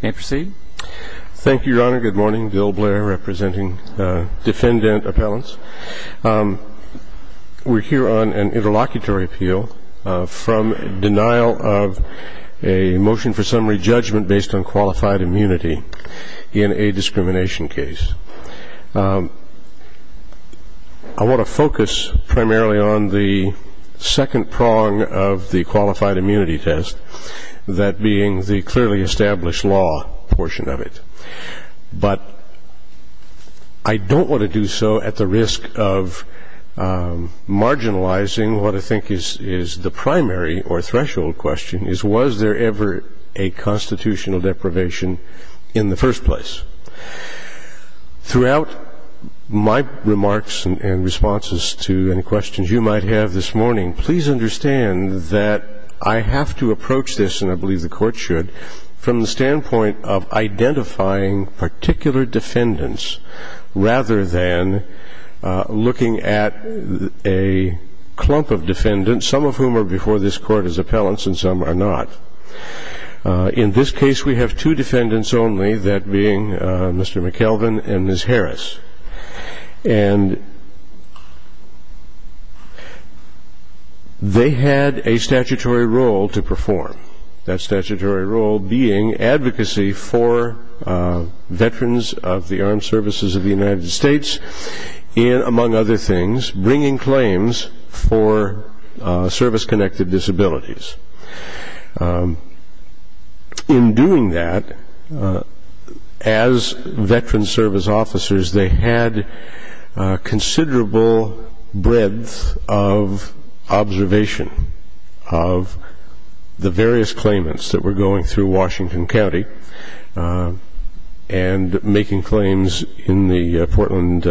Thank you, Your Honor. Good morning. Bill Blair, representing defendant appellants. We're here on an interlocutory appeal from denial of a motion for summary judgment based on qualified immunity in a discrimination case. I want to focus primarily on the second prong of the qualified immunity test, that being the clearly established law portion of it. But I don't want to do so at the risk of marginalizing what I think is the primary or threshold question is, was there ever a constitutional deprivation in the first place? Throughout my remarks and responses to any questions you might have this morning, please understand that I have to approach this, and I believe the Court should, from the standpoint of identifying particular defendants rather than looking at a clump of defendants, some of whom are before this Court as appellants and some are not. In this case, we have two defendants only, that being Mr. McKelvin and Ms. Harris. They had a statutory role to perform, that statutory role being advocacy for veterans of the armed services of the United States, among other things, bringing claims for service-connected disabilities. In doing that, as veterans service officers, they had considerable breadth of observation of the various claimants that in the Portland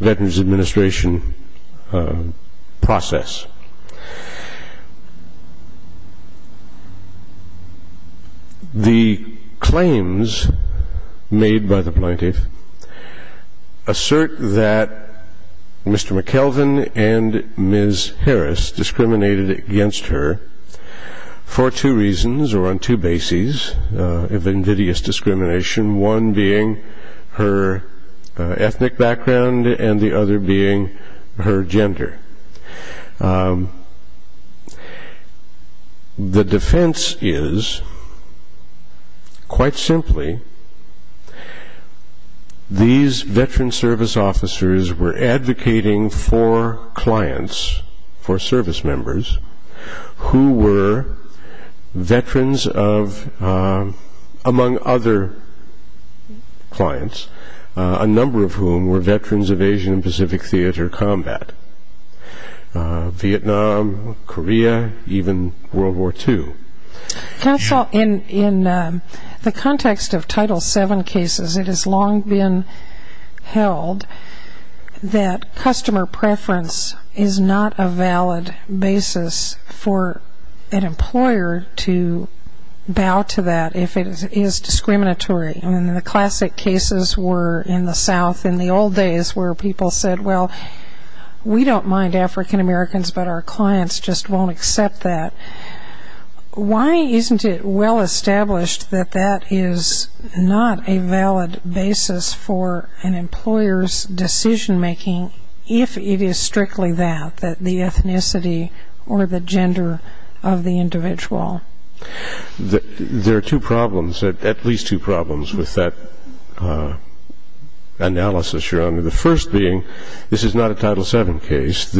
Veterans Administration process. The claims made by the plaintiff assert that Mr. McKelvin and Ms. Harris discriminated against her for two reasons or on two bases of invidious discrimination, one being her ethnic background and the other being her gender. The defense is, quite simply, these veteran service officers were advocating for clients, for service among other clients, a number of whom were veterans of Asian and Pacific theater combat, Vietnam, Korea, even World War II. Counsel, in the context of Title VII cases, it has long been held that customer preference is not a valid basis for an employer to bow to that if it is discriminatory. And the classic cases were in the South, in the old days, where people said, well, we don't mind African Americans, but our clients just won't accept that. Why isn't it well established that that is not a valid basis for an employer's decision-making if it is discriminatory or the gender of the individual? There are two problems, at least two problems, with that analysis, Your Honor. The first being, this is not a Title VII case.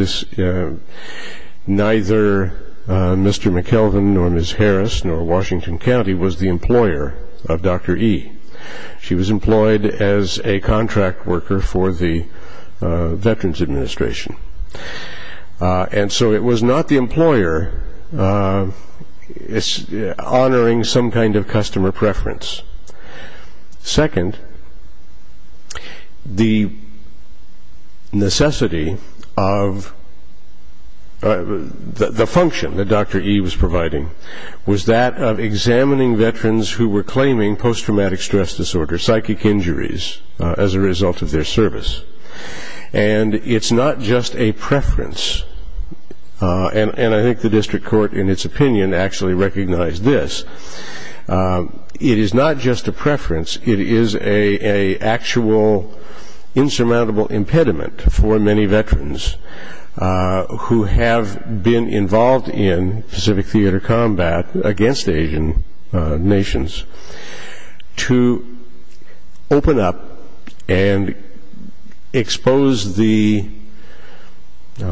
Neither Mr. McKelvin nor Ms. Harris nor Washington County was the employer of Dr. E. She was not the employer honoring some kind of customer preference. Second, the necessity of the function that Dr. E. was providing was that of examining veterans who were claiming post-traumatic stress disorder, psychic injuries, as a result of their service. And it's not just a preference, it is an actual, insurmountable impediment for many veterans who have been involved in Pacific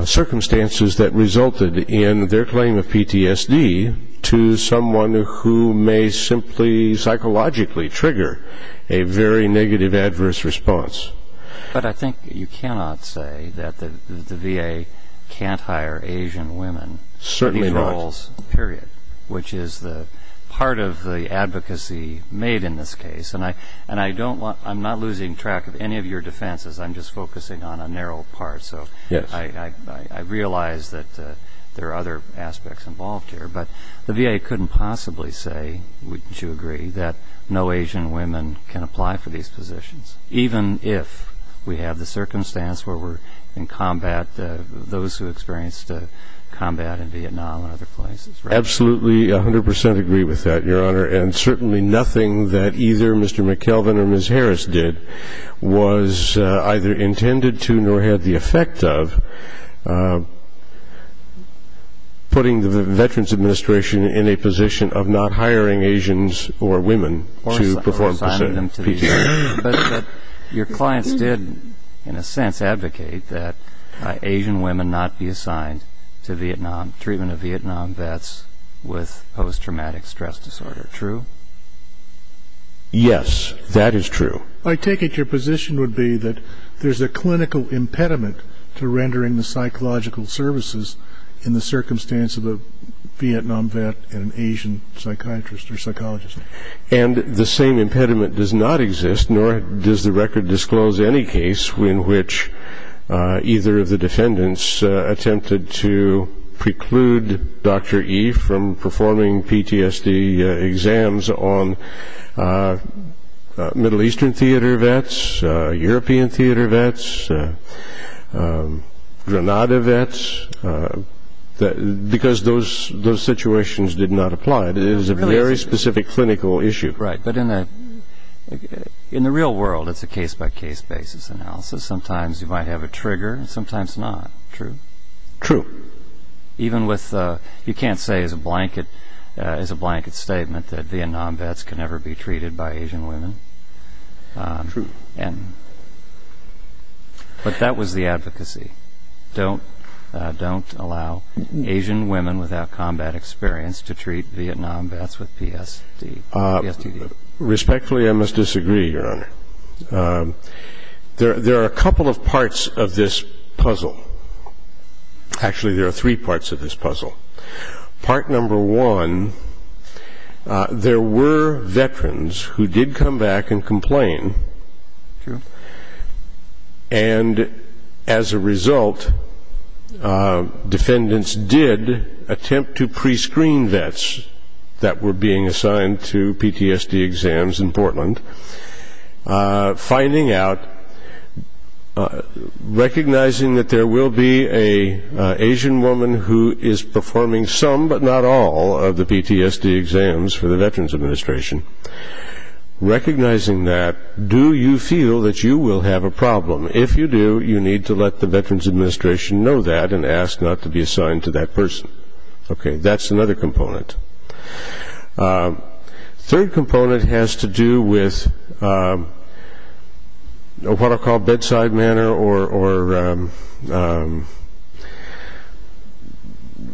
circumstances that resulted in their claim of PTSD to someone who may simply psychologically trigger a very negative, adverse response. But I think you cannot say that the VA can't hire Asian women for these roles, period, which is the part of the advocacy made in this case. And I don't want, I'm not losing track of any of your defenses. I'm just focusing on a I realize that there are other aspects involved here. But the VA couldn't possibly say, would you agree, that no Asian women can apply for these positions, even if we have the circumstance where we're in combat, those who experienced combat in Vietnam and other places, right? Absolutely, 100 percent agree with that, Your Honor. And certainly nothing that either Mr. McKelvin or Ms. Harris did was either intended to nor had the effect of putting the Veterans Administration in a position of not hiring Asians or women to perform PTSD. But your clients did, in a sense, advocate that Asian women not be assigned to Vietnam, treatment of Vietnam vets with post-traumatic stress disorder, true? Yes, that is true. I take it your position would be that there's a clinical impediment to rendering the psychological services in the circumstance of a Vietnam vet and an Asian psychiatrist or psychologist. And the same impediment does not exist, nor does the record disclose any case in which either of the defendants attempted to preclude Dr. E from performing PTSD exams on Middle Eastern theater vets, European theater vets, Grenada vets, because those situations did not apply. It is a very specific clinical issue. Right, but in the real world, it's a case-by-case basis analysis. Sometimes you might have a trigger and sometimes not, true? True. Even with, you can't say as a blanket statement that Vietnam vets can never be treated by Asian women? True. But that was the advocacy. Don't allow Asian women without combat experience to treat Vietnam vets with PSTD. Respectfully, I must disagree, Your Honor. There are a couple of parts of this puzzle. Actually, there are three parts of this puzzle. Part number one, there were veterans who did come back and complain. True. And as a result, defendants did attempt to prescreen vets that were being assigned to PTSD exams in Portland, finding out, recognizing that there will be an Asian woman who is performing some but not all of the PTSD exams for the Veterans Administration, recognizing that, do you feel that you will have a problem? If you do, you need to let the Veterans Administration know that and ask not to be assigned to that person. Okay, that's another component. Third component has to do with what I'll call bedside manner or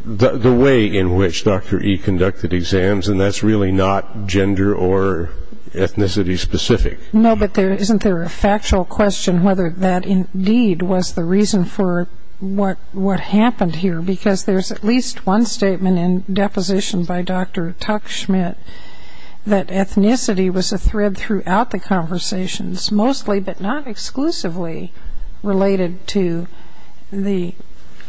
the way in which Dr. E conducted exams, and that's really not gender or ethnicity specific. No, but isn't there a factual question whether that indeed was the reason for what happened here? Because there's at least one statement in deposition by Dr. Tuck-Schmidt that ethnicity was a thread throughout the conversations, mostly but not exclusively related to the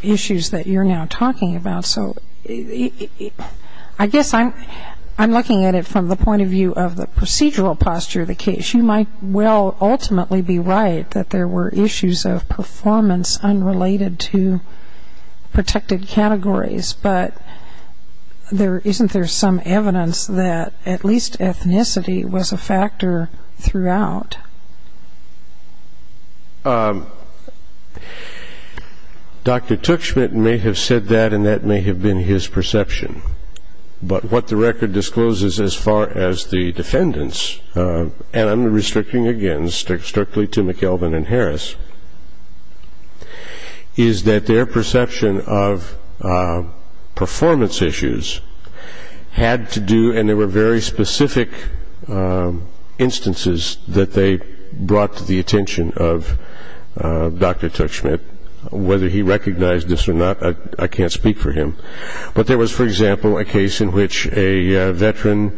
issues that you're now talking about. So I guess I'm looking at it from the point of view of the procedural posture of the case. You might well ultimately be right that there were issues of performance unrelated to protected categories, but isn't there some evidence that at least ethnicity was a factor throughout? Dr. Tuck-Schmidt may have said that, and that may have been his perception, but what the record discloses as far as the defendants, and I'm restricting again strictly to McKelvin and Harris, is that their perception of performance issues had to do, and there were very specific instances that they brought to the attention of Dr. Tuck-Schmidt. Whether he recognized this or not, I can't speak for him, but there was, for example, a case in which a veteran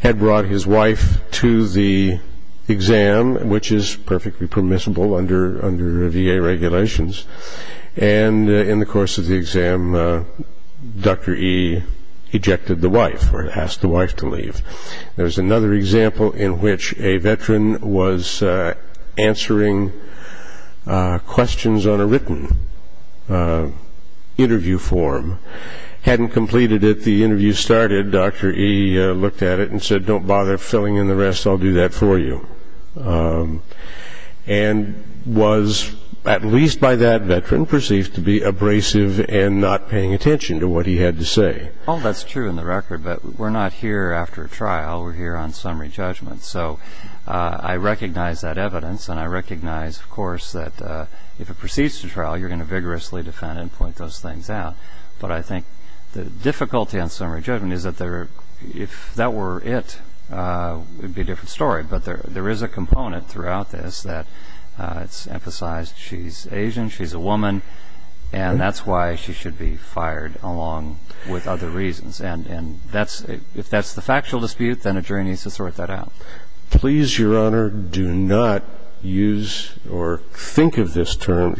had brought his wife to the exam, which is perfectly permissible under VA regulations, and in the course of the exam, Dr. E ejected the wife or asked the wife to leave. There's another example in which a veteran was answering questions on a written interview form, hadn't completed it, the interview started, Dr. E looked at it and said, don't bother filling in the rest, I'll do that for you. And was, at least by that veteran, perceived to be abrasive and not paying attention to what he had to say. Oh, that's true in the record, but we're not here after a trial, we're here on summary judgment. So I recognize that evidence, and I recognize, of course, that if it proceeds to trial, you're going to vigorously defend and point those things out. But I think the difficulty on summary judgment is that if that were it, it would be a different story. But there is a component throughout this that's emphasized, she's Asian, she's a woman, and that's why she should be fired along with other reasons. And if that's the factual dispute, then a jury needs to sort that out. Please, Your Honor, do not use or think of this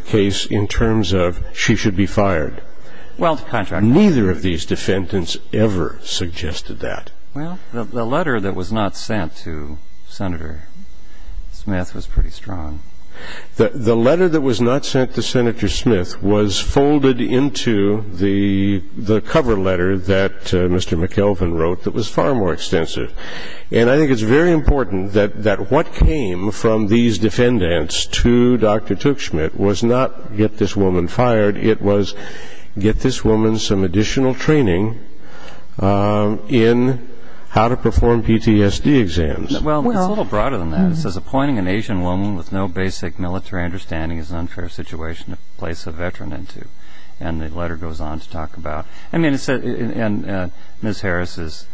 case in terms of she should be fired. Neither of these defendants ever suggested that. Well, the letter that was not sent to Senator Smith was pretty strong. The letter that was not sent to Senator Smith was folded into the cover letter that Mr. McKelvin wrote that was far more extensive. And I think it's very important that what came from these defendants to Dr. Tuchschmidt was not get this woman fired, it was get this woman some additional training in how to perform PTSD exams. Well, it's a little broader than that. It says, appointing an Asian woman with no basic military understanding is an unfair situation to place a veteran into. And the letter goes on to talk about, I mean, and Ms. Harris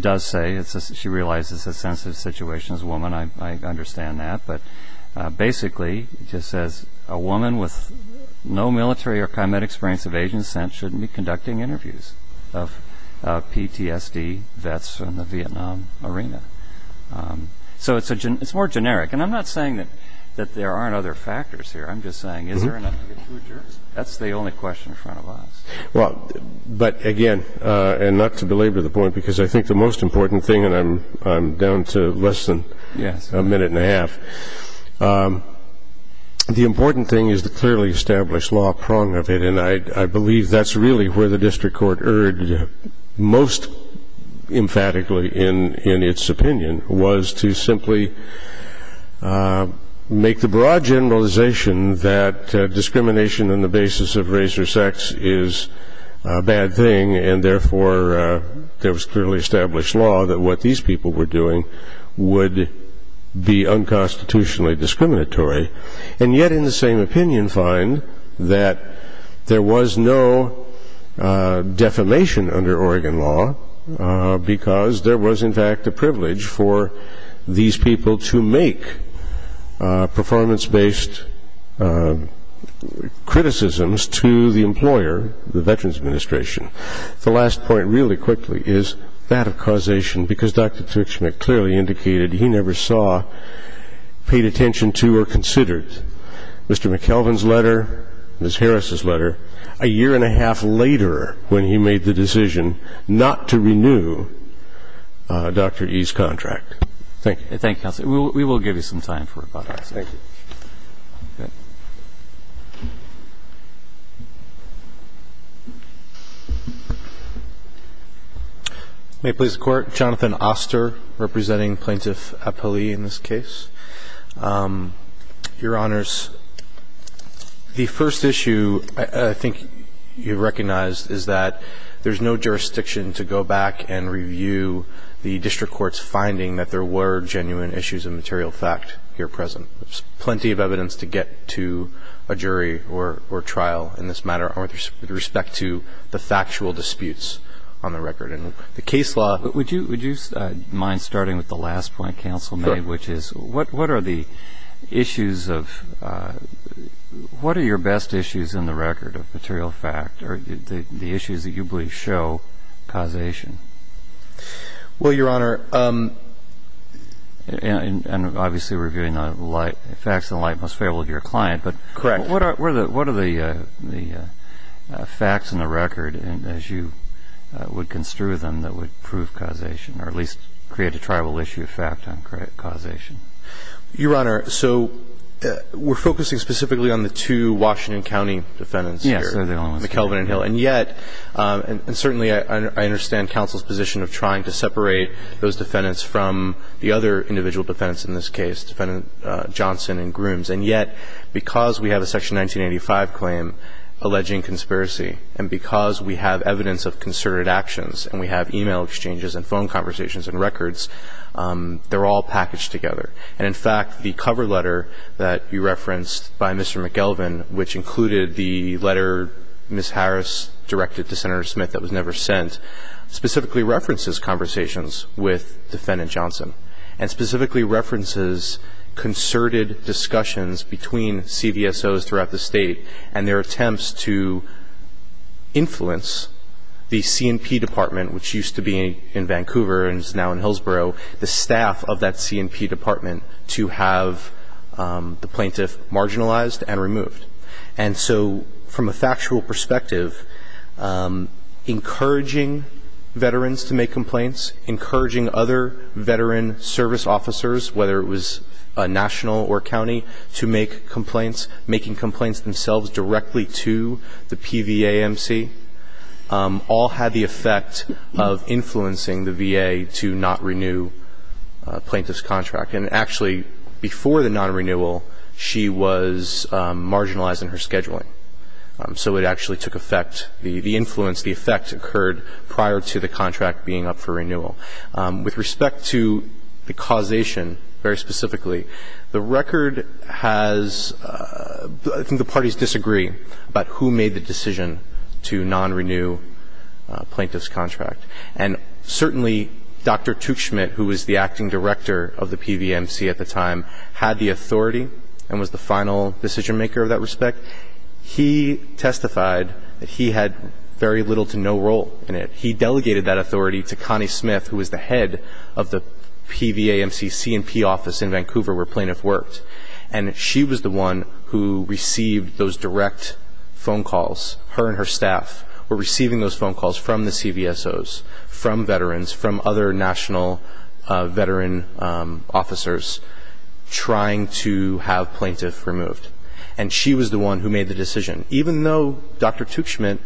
does say, she realizes it's a sensitive situation as a woman, I understand that. But basically, it just says a woman with no military or combat experience of Asian descent shouldn't be conducting interviews of PTSD vets in the Vietnam arena. So it's more generic. And I'm not saying that there aren't other factors here. I'm just saying, is there enough to get two jurors? That's the only question in front of us. Well, but again, and not to belabor the point, because I think the most important thing, and I'm down to less than a minute and a half. The important thing is the clearly established law prong of it, and I believe that's really where the district court erred most emphatically in its opinion, was to simply make the broad generalization that discrimination on the basis of race or sex is a bad thing, and therefore there was clearly established law that what these people were doing would be unconstitutionally discriminatory, and yet in the same opinion find that there was no defamation under Oregon law because there was, in fact, a privilege for these people to make performance-based criticisms to the employer, the Veterans Administration. The last point, really quickly, is that of causation, because Dr. Tuchman clearly indicated he never saw, paid attention to, or considered Mr. McKelvin's letter, Ms. Harris's letter, a year and a half later when he made the decision not to renew Dr. E's contract. Thank you. Thank you, counsel. We will give you some time for rebuttal. Thank you. May it please the Court. Jonathan Oster, representing Plaintiff Apolli in this case. Your Honors, the first issue I think you recognized is that there's no jurisdiction to go back and review the district court's finding that there were genuine issues of material fact here present. There's plenty of evidence to get to a jury or trial in this matter with respect to the factual disputes on the record. The case law – Would you mind starting with the last point counsel made, which is what are the issues of – what are your best issues in the record of material fact, or the issues that you believe show causation? Well, Your Honor – And obviously reviewing the facts in the light and most favorable to your client. Correct. But what are the facts in the record as you would construe them that would prove causation, or at least create a tribal issue of fact on causation? Your Honor, so we're focusing specifically on the two Washington County defendants here. Yes, they're the only ones. McKelvin and Hill. And yet – and certainly I understand counsel's position of trying to separate those defendants from the other individual defendants in this case, defendant Johnson and Grooms. And yet, because we have a Section 1985 claim alleging conspiracy, and because we have evidence of concerted actions, and we have e-mail exchanges and phone conversations and records, they're all packaged together. And in fact, the cover letter that you referenced by Mr. McKelvin, which included the letter Ms. Harris directed to Senator Smith that was never sent, specifically references conversations with defendant Johnson and specifically references concerted discussions between CVSOs throughout the state and their attempts to influence the C&P Department, which used to be in Vancouver and is now in Hillsborough, the staff of that C&P Department to have the plaintiff marginalized and removed. And so from a factual perspective, encouraging veterans to make complaints, encouraging other veteran service officers, whether it was a national or a county, to make complaints, making complaints themselves directly to the PVA MC, all had the effect of influencing the VA to not renew a plaintiff's contract. And actually, before the non-renewal, she was marginalized in her scheduling. So it actually took effect. The influence, the effect occurred prior to the contract being up for renewal. With respect to the causation, very specifically, the record has, I think the parties disagree about who made the decision to non-renew a plaintiff's contract. And certainly, Dr. Tuchman, who was the acting director of the PVMC at the time, had the authority and was the final decision-maker of that respect. He testified that he had very little to no role in it. He delegated that authority to Connie Smith, who was the head of the PVA MC C&P office in Vancouver where plaintiff worked. And she was the one who received those direct phone calls. Her and her staff were receiving those phone calls from the CVSOs, from veterans, from other national veteran officers trying to have plaintiff removed. And she was the one who made the decision. Even though Dr. Tuchman,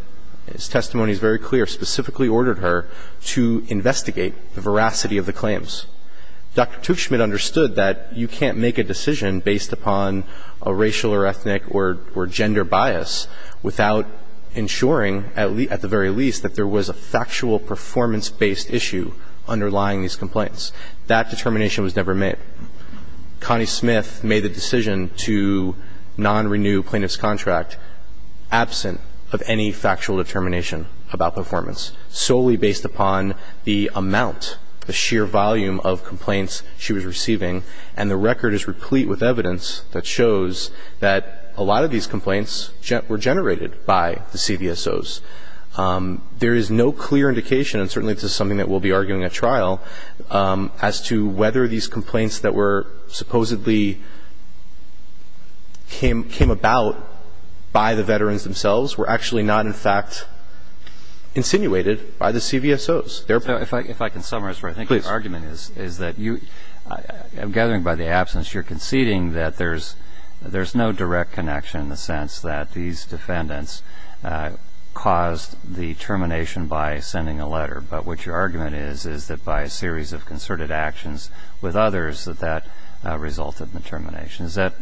his testimony is very clear, specifically ordered her to investigate the veracity of the claims, Dr. Tuchman understood that you can't make a decision based upon a racial or ethnic or gender bias without ensuring, at the very least, that there was a factual performance-based issue underlying these complaints. That determination was never made. Connie Smith made the decision to non-renew plaintiff's contract absent of any factual determination about performance, solely based upon the amount, the sheer volume of complaints she was receiving. And the record is replete with evidence that shows that a lot of these complaints were generated by the CVSOs. There is no clear indication, and certainly this is something that we'll be arguing at trial, as to whether these complaints that were supposedly came about by the veterans themselves were actually not, in fact, insinuated by the CVSOs. If I can summarize, I think your argument is that you, I'm gathering by the absence, you're conceding that there's no direct connection in the sense that these defendants caused the termination by sending a letter. But what your argument is is that by a series of concerted actions with others that that resulted in the termination. Is that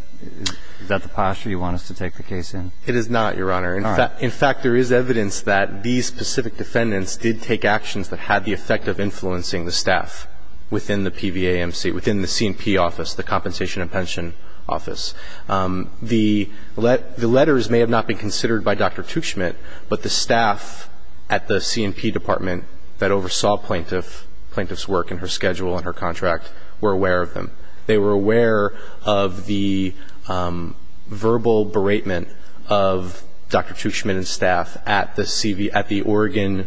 the posture you want us to take the case in? It is not, Your Honor. All right. In fact, there is evidence that these specific defendants did take actions that had the effect of influencing the staff within the PVAMC, within the C&P office, the Compensation and Pension Office. The letters may have not been considered by Dr. Tuchman, but the staff at the C&P department that oversaw plaintiff's work and her schedule and her contract were aware of them. They were aware of the verbal beratement of Dr. Tuchman and staff at the Oregon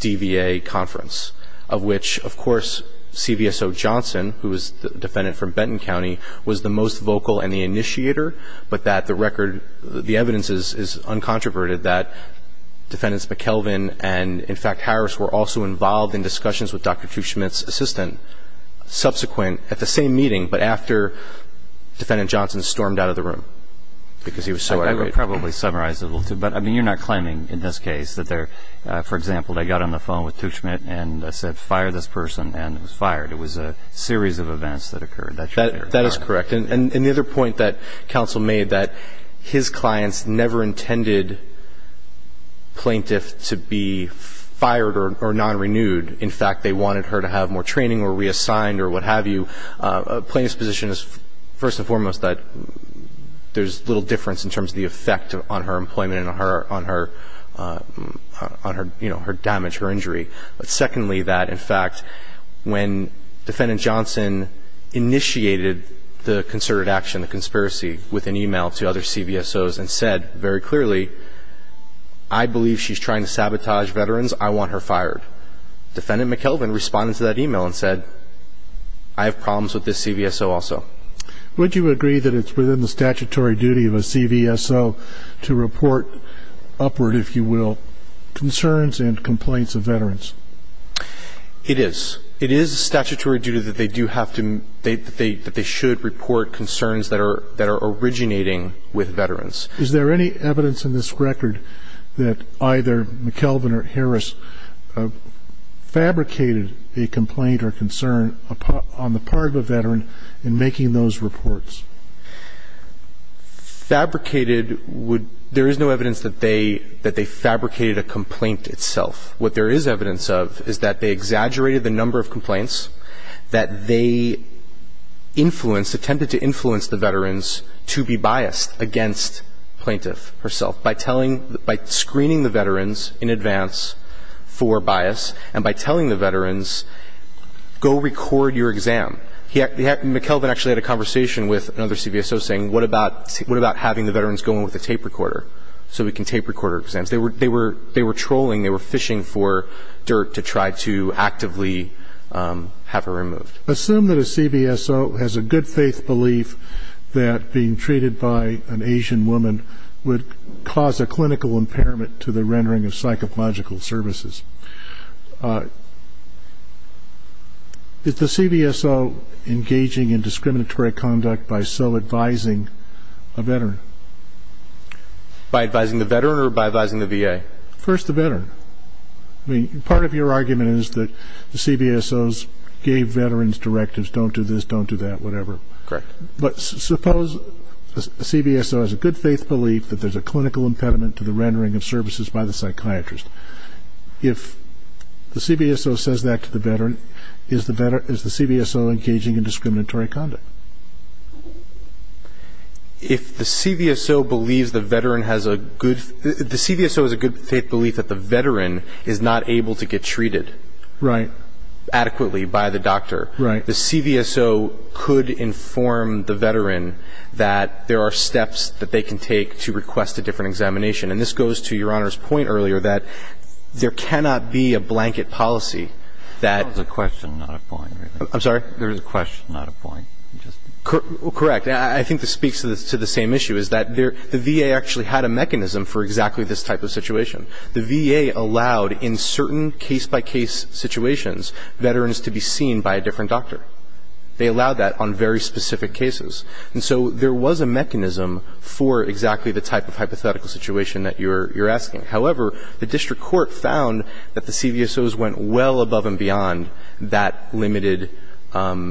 DVA conference, of which, of course, CVSO Johnson, who was the defendant from Benton County, was the most vocal and the initiator, but that the record, the evidence is uncontroverted that Defendants McKelvin and, in fact, Harris were also involved in discussions with Dr. Tuchman's assistant subsequent at the same meeting, but after Defendant Johnson stormed out of the room, because he was so agitated. I could probably summarize a little too, but, I mean, you're not claiming in this case that there, for example, they got on the phone with Tuchman and said, fire this person, and it was fired. It was a series of events that occurred. That's your theory. That is correct. And the other point that counsel made that his clients never intended plaintiff to be fired or non-renewed. In fact, they wanted her to have more training or reassigned or what have you. A plaintiff's position is, first and foremost, that there's little difference in terms of the effect on her employment and on her damage, her injury. But, secondly, that, in fact, when Defendant Johnson initiated the concerted action, the conspiracy with an email to other CVSOs and said very clearly, I believe she's trying to sabotage veterans. I want her fired. Defendant McKelvin responded to that email and said, I have problems with this CVSO also. Would you agree that it's within the statutory duty of a CVSO to report upward, if you will, concerns and complaints of veterans? It is. It is statutory duty that they should report concerns that are originating with veterans. Is there any evidence in this record that either McKelvin or Harris fabricated a complaint or concern on the part of a veteran in making those reports? Fabricated would – there is no evidence that they fabricated a complaint itself. What there is evidence of is that they exaggerated the number of complaints, that they influenced, attempted to influence the veterans to be biased against plaintiff herself by telling – by screening the veterans in advance for bias and by telling the veterans, go record your exam. McKelvin actually had a conversation with another CVSO saying, what about having the veterans go in with a tape recorder so we can tape recorder exams? They were trolling. They were fishing for dirt to try to actively have her removed. Assume that a CVSO has a good faith belief that being treated by an Asian woman would cause a clinical impairment to the rendering of psychological services. Is the CVSO engaging in discriminatory conduct by so advising a veteran? By advising the veteran or by advising the VA? First the veteran. I mean, part of your argument is that the CVSOs gave veterans directives, don't do this, don't do that, whatever. Correct. But suppose a CVSO has a good faith belief that there is a clinical impediment to the rendering of services by the psychiatrist. If the CVSO says that to the veteran, is the CVSO engaging in discriminatory conduct? If the CVSO believes the veteran has a good – the CVSO has a good faith belief that the veteran is not able to get treated adequately by the doctor, the CVSO could inform the veteran that there are steps that they can take to request a different examination. And this goes to Your Honor's point earlier that there cannot be a blanket policy that – That was a question, not a point. I'm sorry? That was a question, not a point. Correct. I think this speaks to the same issue, is that the VA actually had a mechanism for exactly this type of situation. The VA allowed in certain case-by-case situations veterans to be seen by a different doctor. They allowed that on very specific cases. And so there was a mechanism for exactly the type of hypothetical situation that you're asking. However, the district court found that the CVSOs went well above and beyond that limited advocacy.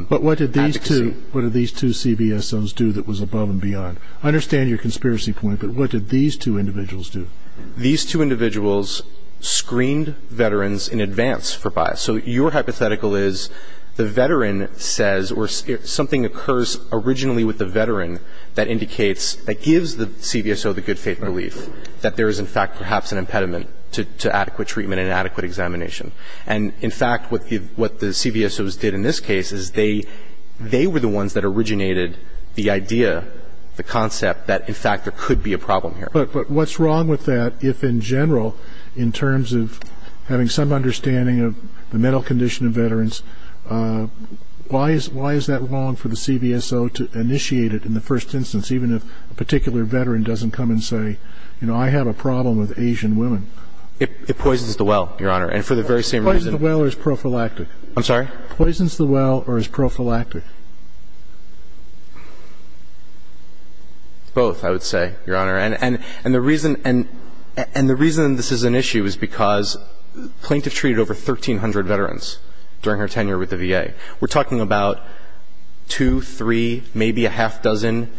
But what did these two – what did these two CVSOs do that was above and beyond? I understand your conspiracy point, but what did these two individuals do? These two individuals screened veterans in advance for bias. So your hypothetical is the veteran says – or something occurs originally with the veteran that indicates – that gives the CVSO the good faith belief that there is, in fact, perhaps an impediment to adequate treatment and adequate examination. And, in fact, what the CVSOs did in this case is they were the ones that originated the idea, the concept, that, in fact, there could be a problem here. But what's wrong with that if, in general, in terms of having some understanding of the mental condition of veterans, why is that wrong for the CVSO to initiate it in the first instance, even if a particular veteran doesn't come and say, you know, I have a problem with Asian women? It poisons the well, Your Honor. And for the very same reason – Poisons the well or is prophylactic? I'm sorry? Poisons the well or is prophylactic? Both, I would say, Your Honor. And the reason – and the reason this is an issue is because Plaintiff treated over 1,300 veterans during her tenure with the VA. We're talking about two, three, maybe a half dozen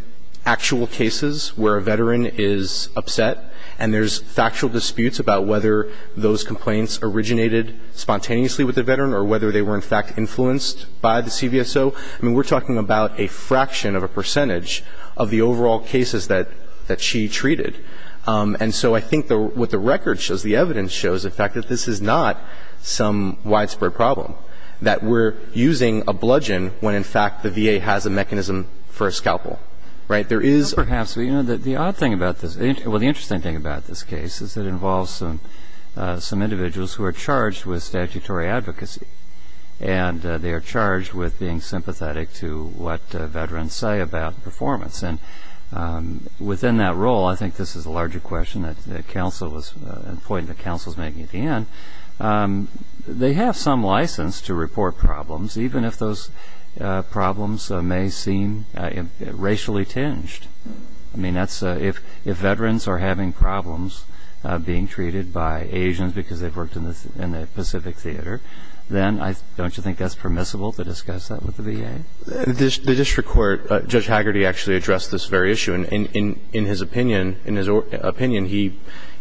actual cases where a veteran is upset and there's factual disputes about whether those complaints originated spontaneously with the veteran or whether they were, in fact, influenced by the CVSO. I mean, we're talking about a fraction of a percentage of the overall cases that she treated. And so I think what the record shows, the evidence shows, in fact, that this is not some widespread problem, that we're using a bludgeon when, in fact, the VA has a mechanism for a scalpel. Right? There is – Perhaps. But, you know, the odd thing about this – well, the interesting thing about this case is it involves some individuals who are charged with statutory advocacy. And they are charged with being sympathetic to what veterans say about performance. And within that role – I think this is a larger question that counsel was – a point that counsel is making at the end – they have some license to report problems, even if those problems may seem racially tinged. I mean, that's – if veterans are having problems being treated by Asians because they've worked in the Pacific Theater, then don't you think that's permissible to discuss that with the VA? The district court – Judge Haggerty actually addressed this very issue. And in his opinion,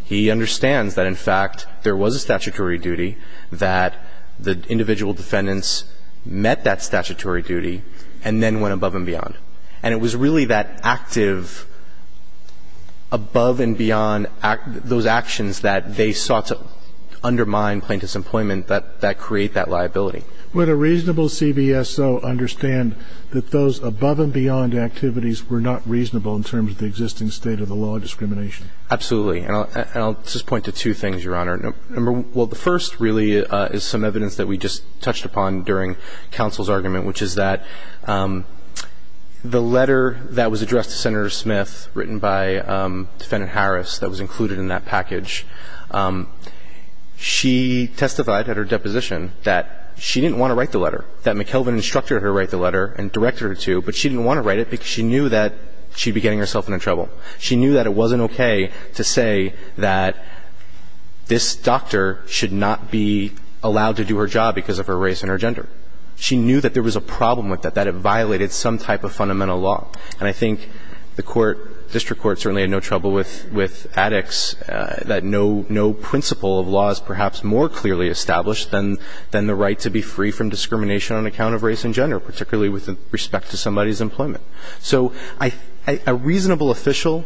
he understands that, in fact, there was a statutory duty, that the individual defendants met that statutory duty and then went above and beyond. And it was really that active above and beyond – those actions that they sought to undermine plaintiff's employment that create that liability. Would a reasonable CVSO understand that those above and beyond activities were not reasonable in terms of the existing state of the law discrimination? Absolutely. And I'll just point to two things, Your Honor. Well, the first really is some evidence that we just touched upon during counsel's argument, which is that the letter that was addressed to Senator Smith, written by Defendant Harris that was included in that package, she testified at her deposition that she didn't want to write the letter, that McKelvin instructed her to write the letter and directed her to, but she didn't want to write it because she knew that she'd be getting herself into trouble. She knew that it wasn't okay to say that this doctor should not be allowed to do her job because of her race and her gender. She knew that there was a problem with that, that it violated some type of fundamental law. And I think the court, district court, certainly had no trouble with addicts, that no principle of law is perhaps more clearly established than the right to be free from discrimination on account of race and gender, particularly with respect to somebody's employment. So a reasonable official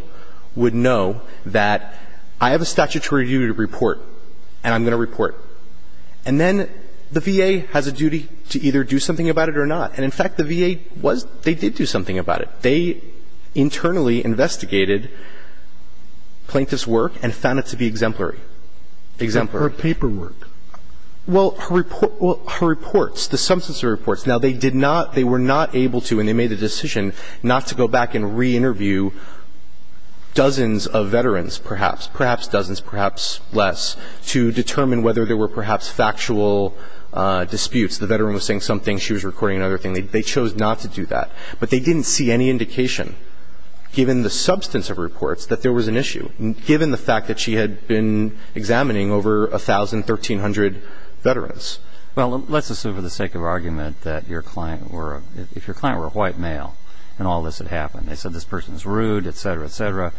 would know that I have a statutory duty to report, and I'm going to report. And then the VA has a duty to either do something about it or not. And, in fact, the VA was – they did do something about it. They internally investigated Plaintiff's work and found it to be exemplary. Exemplary. Or paperwork. Well, her reports, the substance of her reports. Now, they did not – they were not able to, and they made the decision not to go back and reinterview dozens of veterans, perhaps, perhaps dozens, perhaps less, to determine whether there were perhaps factual disputes. The veteran was saying something, she was recording another thing. They chose not to do that. But they didn't see any indication, given the substance of reports, that there was an issue, given the fact that she had been examining over 1,000, 1,300 veterans. Well, let's assume for the sake of argument that your client were – if your client were a white male and all this had happened, and they said this person is rude, et cetera, et cetera,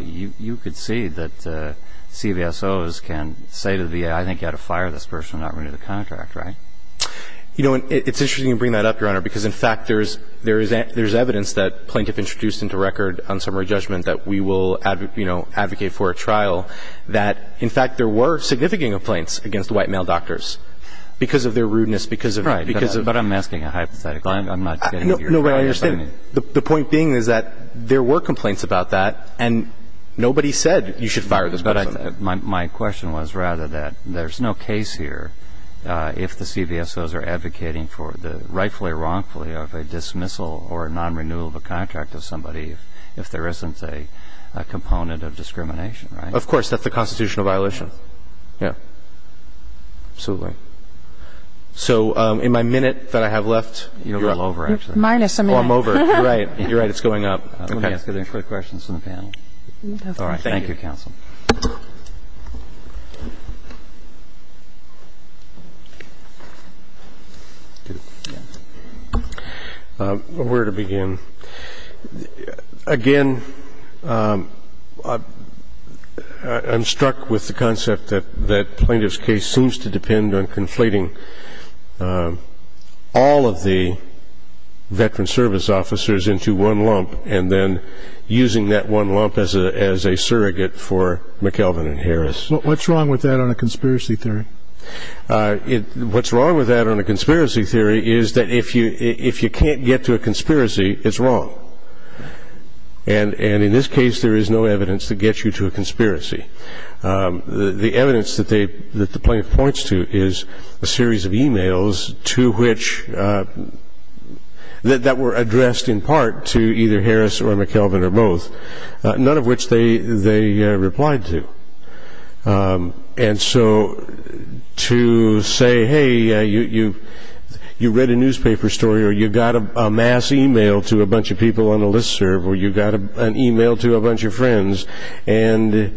you could see that CVSOs can say to the VA, I think you ought to fire this person and not renew the contract, right? You know, it's interesting you bring that up, Your Honor, because, in fact, there is evidence that Plaintiff introduced into record on summary judgment that we will, you know, advocate for a trial that, in fact, there were significant complaints against white male doctors because of their rudeness, because of – Right, but I'm asking a hypothetical. I'm not getting what you're saying. No, but I understand. The point being is that there were complaints about that, and nobody said you should fire this person. But my question was rather that there's no case here if the CVSOs are advocating for the rightfully or wrongfully of a dismissal or a non-renewal of a contract of somebody if there isn't a component of discrimination, right? Of course. That's a constitutional violation. Yes. Yeah. Absolutely. So in my minute that I have left, Your Honor – Well, I'm over it. You're right. You're right. It's going up. I'm going to ask other questions from the panel. All right. Thank you. Thank you, counsel. Where to begin? Again, I'm struck with the concept that Plaintiff's case seems to depend on conflating all of the veteran service officers into one lump and then using that one lump as a surrogate for McKelvin and Harris. What's wrong with that on a conspiracy theory? What's wrong with that on a conspiracy theory is that if you can't get to a conspiracy, it's wrong. And in this case, there is no evidence to get you to a conspiracy. The evidence that the plaintiff points to is a series of e-mails to which – that were addressed in part to either Harris or McKelvin or both, none of which they replied to. And so to say, hey, you read a newspaper story or you got a mass e-mail to a bunch of people on a list serve or you got an e-mail to a bunch of friends and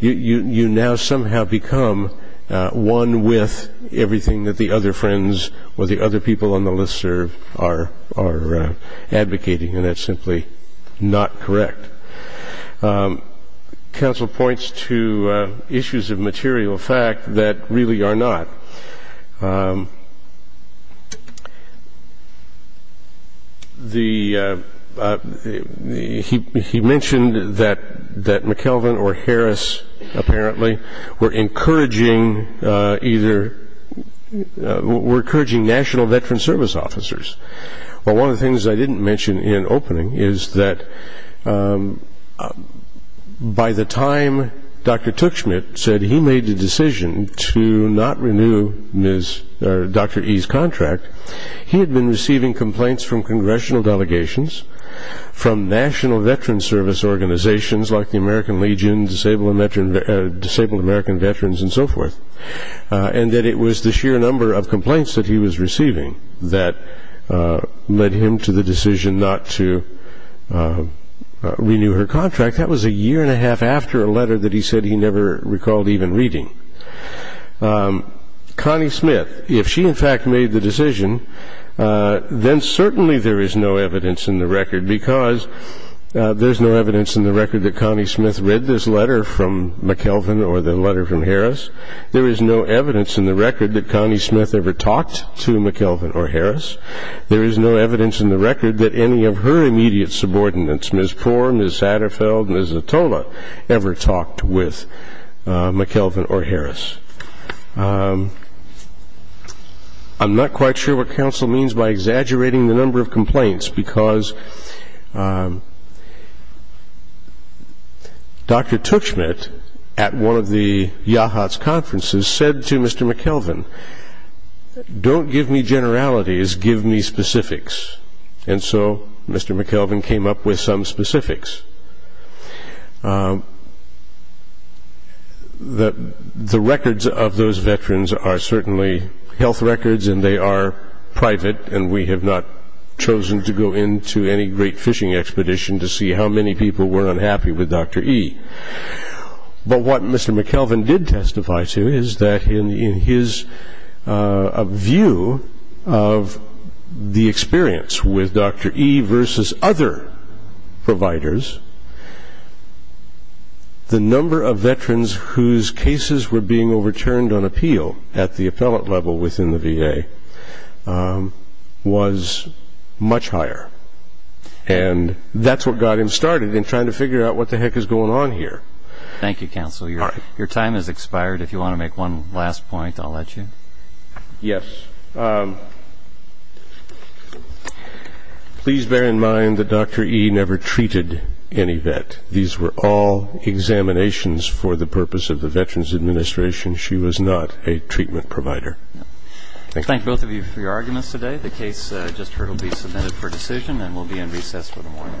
you now somehow become one with everything that the other friends or the other people on the list serve are advocating, and that's simply not correct. Counsel points to issues of material fact that really are not. He mentioned that McKelvin or Harris apparently were encouraging national veteran service officers. Well, one of the things I didn't mention in opening is that by the time Dr. Tuchman said that he made the decision to not renew Dr. E's contract, he had been receiving complaints from congressional delegations, from national veteran service organizations like the American Legion, Disabled American Veterans, and so forth, and that it was the sheer number of complaints that he was receiving that led him to the decision not to renew her contract. That was a year and a half after a letter that he said he never recalled even reading. Connie Smith, if she in fact made the decision, then certainly there is no evidence in the record because there's no evidence in the record that Connie Smith read this letter from McKelvin or the letter from Harris. There is no evidence in the record that Connie Smith ever talked to McKelvin or Harris. There is no evidence in the record that any of her immediate subordinates, Ms. Poore, Ms. Satterfeld, Ms. Zatola, ever talked with McKelvin or Harris. I'm not quite sure what counsel means by exaggerating the number of complaints because Dr. Tuchman at one of the YAHATS conferences said to Mr. McKelvin, Don't give me generalities, give me specifics. And so Mr. McKelvin came up with some specifics. The records of those veterans are certainly health records and they are private and we have not chosen to go into any great fishing expedition to see how many people were unhappy with Dr. E. But what Mr. McKelvin did testify to is that in his view of the experience with Dr. E versus other providers, the number of veterans whose cases were being overturned on appeal at the appellate level within the VA was much higher. And that's what got him started in trying to figure out what the heck is going on here. Thank you, counsel. Your time has expired. If you want to make one last point, I'll let you. Yes. Please bear in mind that Dr. E. never treated any vet. These were all examinations for the purpose of the Veterans Administration. She was not a treatment provider. Thank both of you for your arguments today. The case I just heard will be submitted for decision and will be in recess for the morning. Thank you.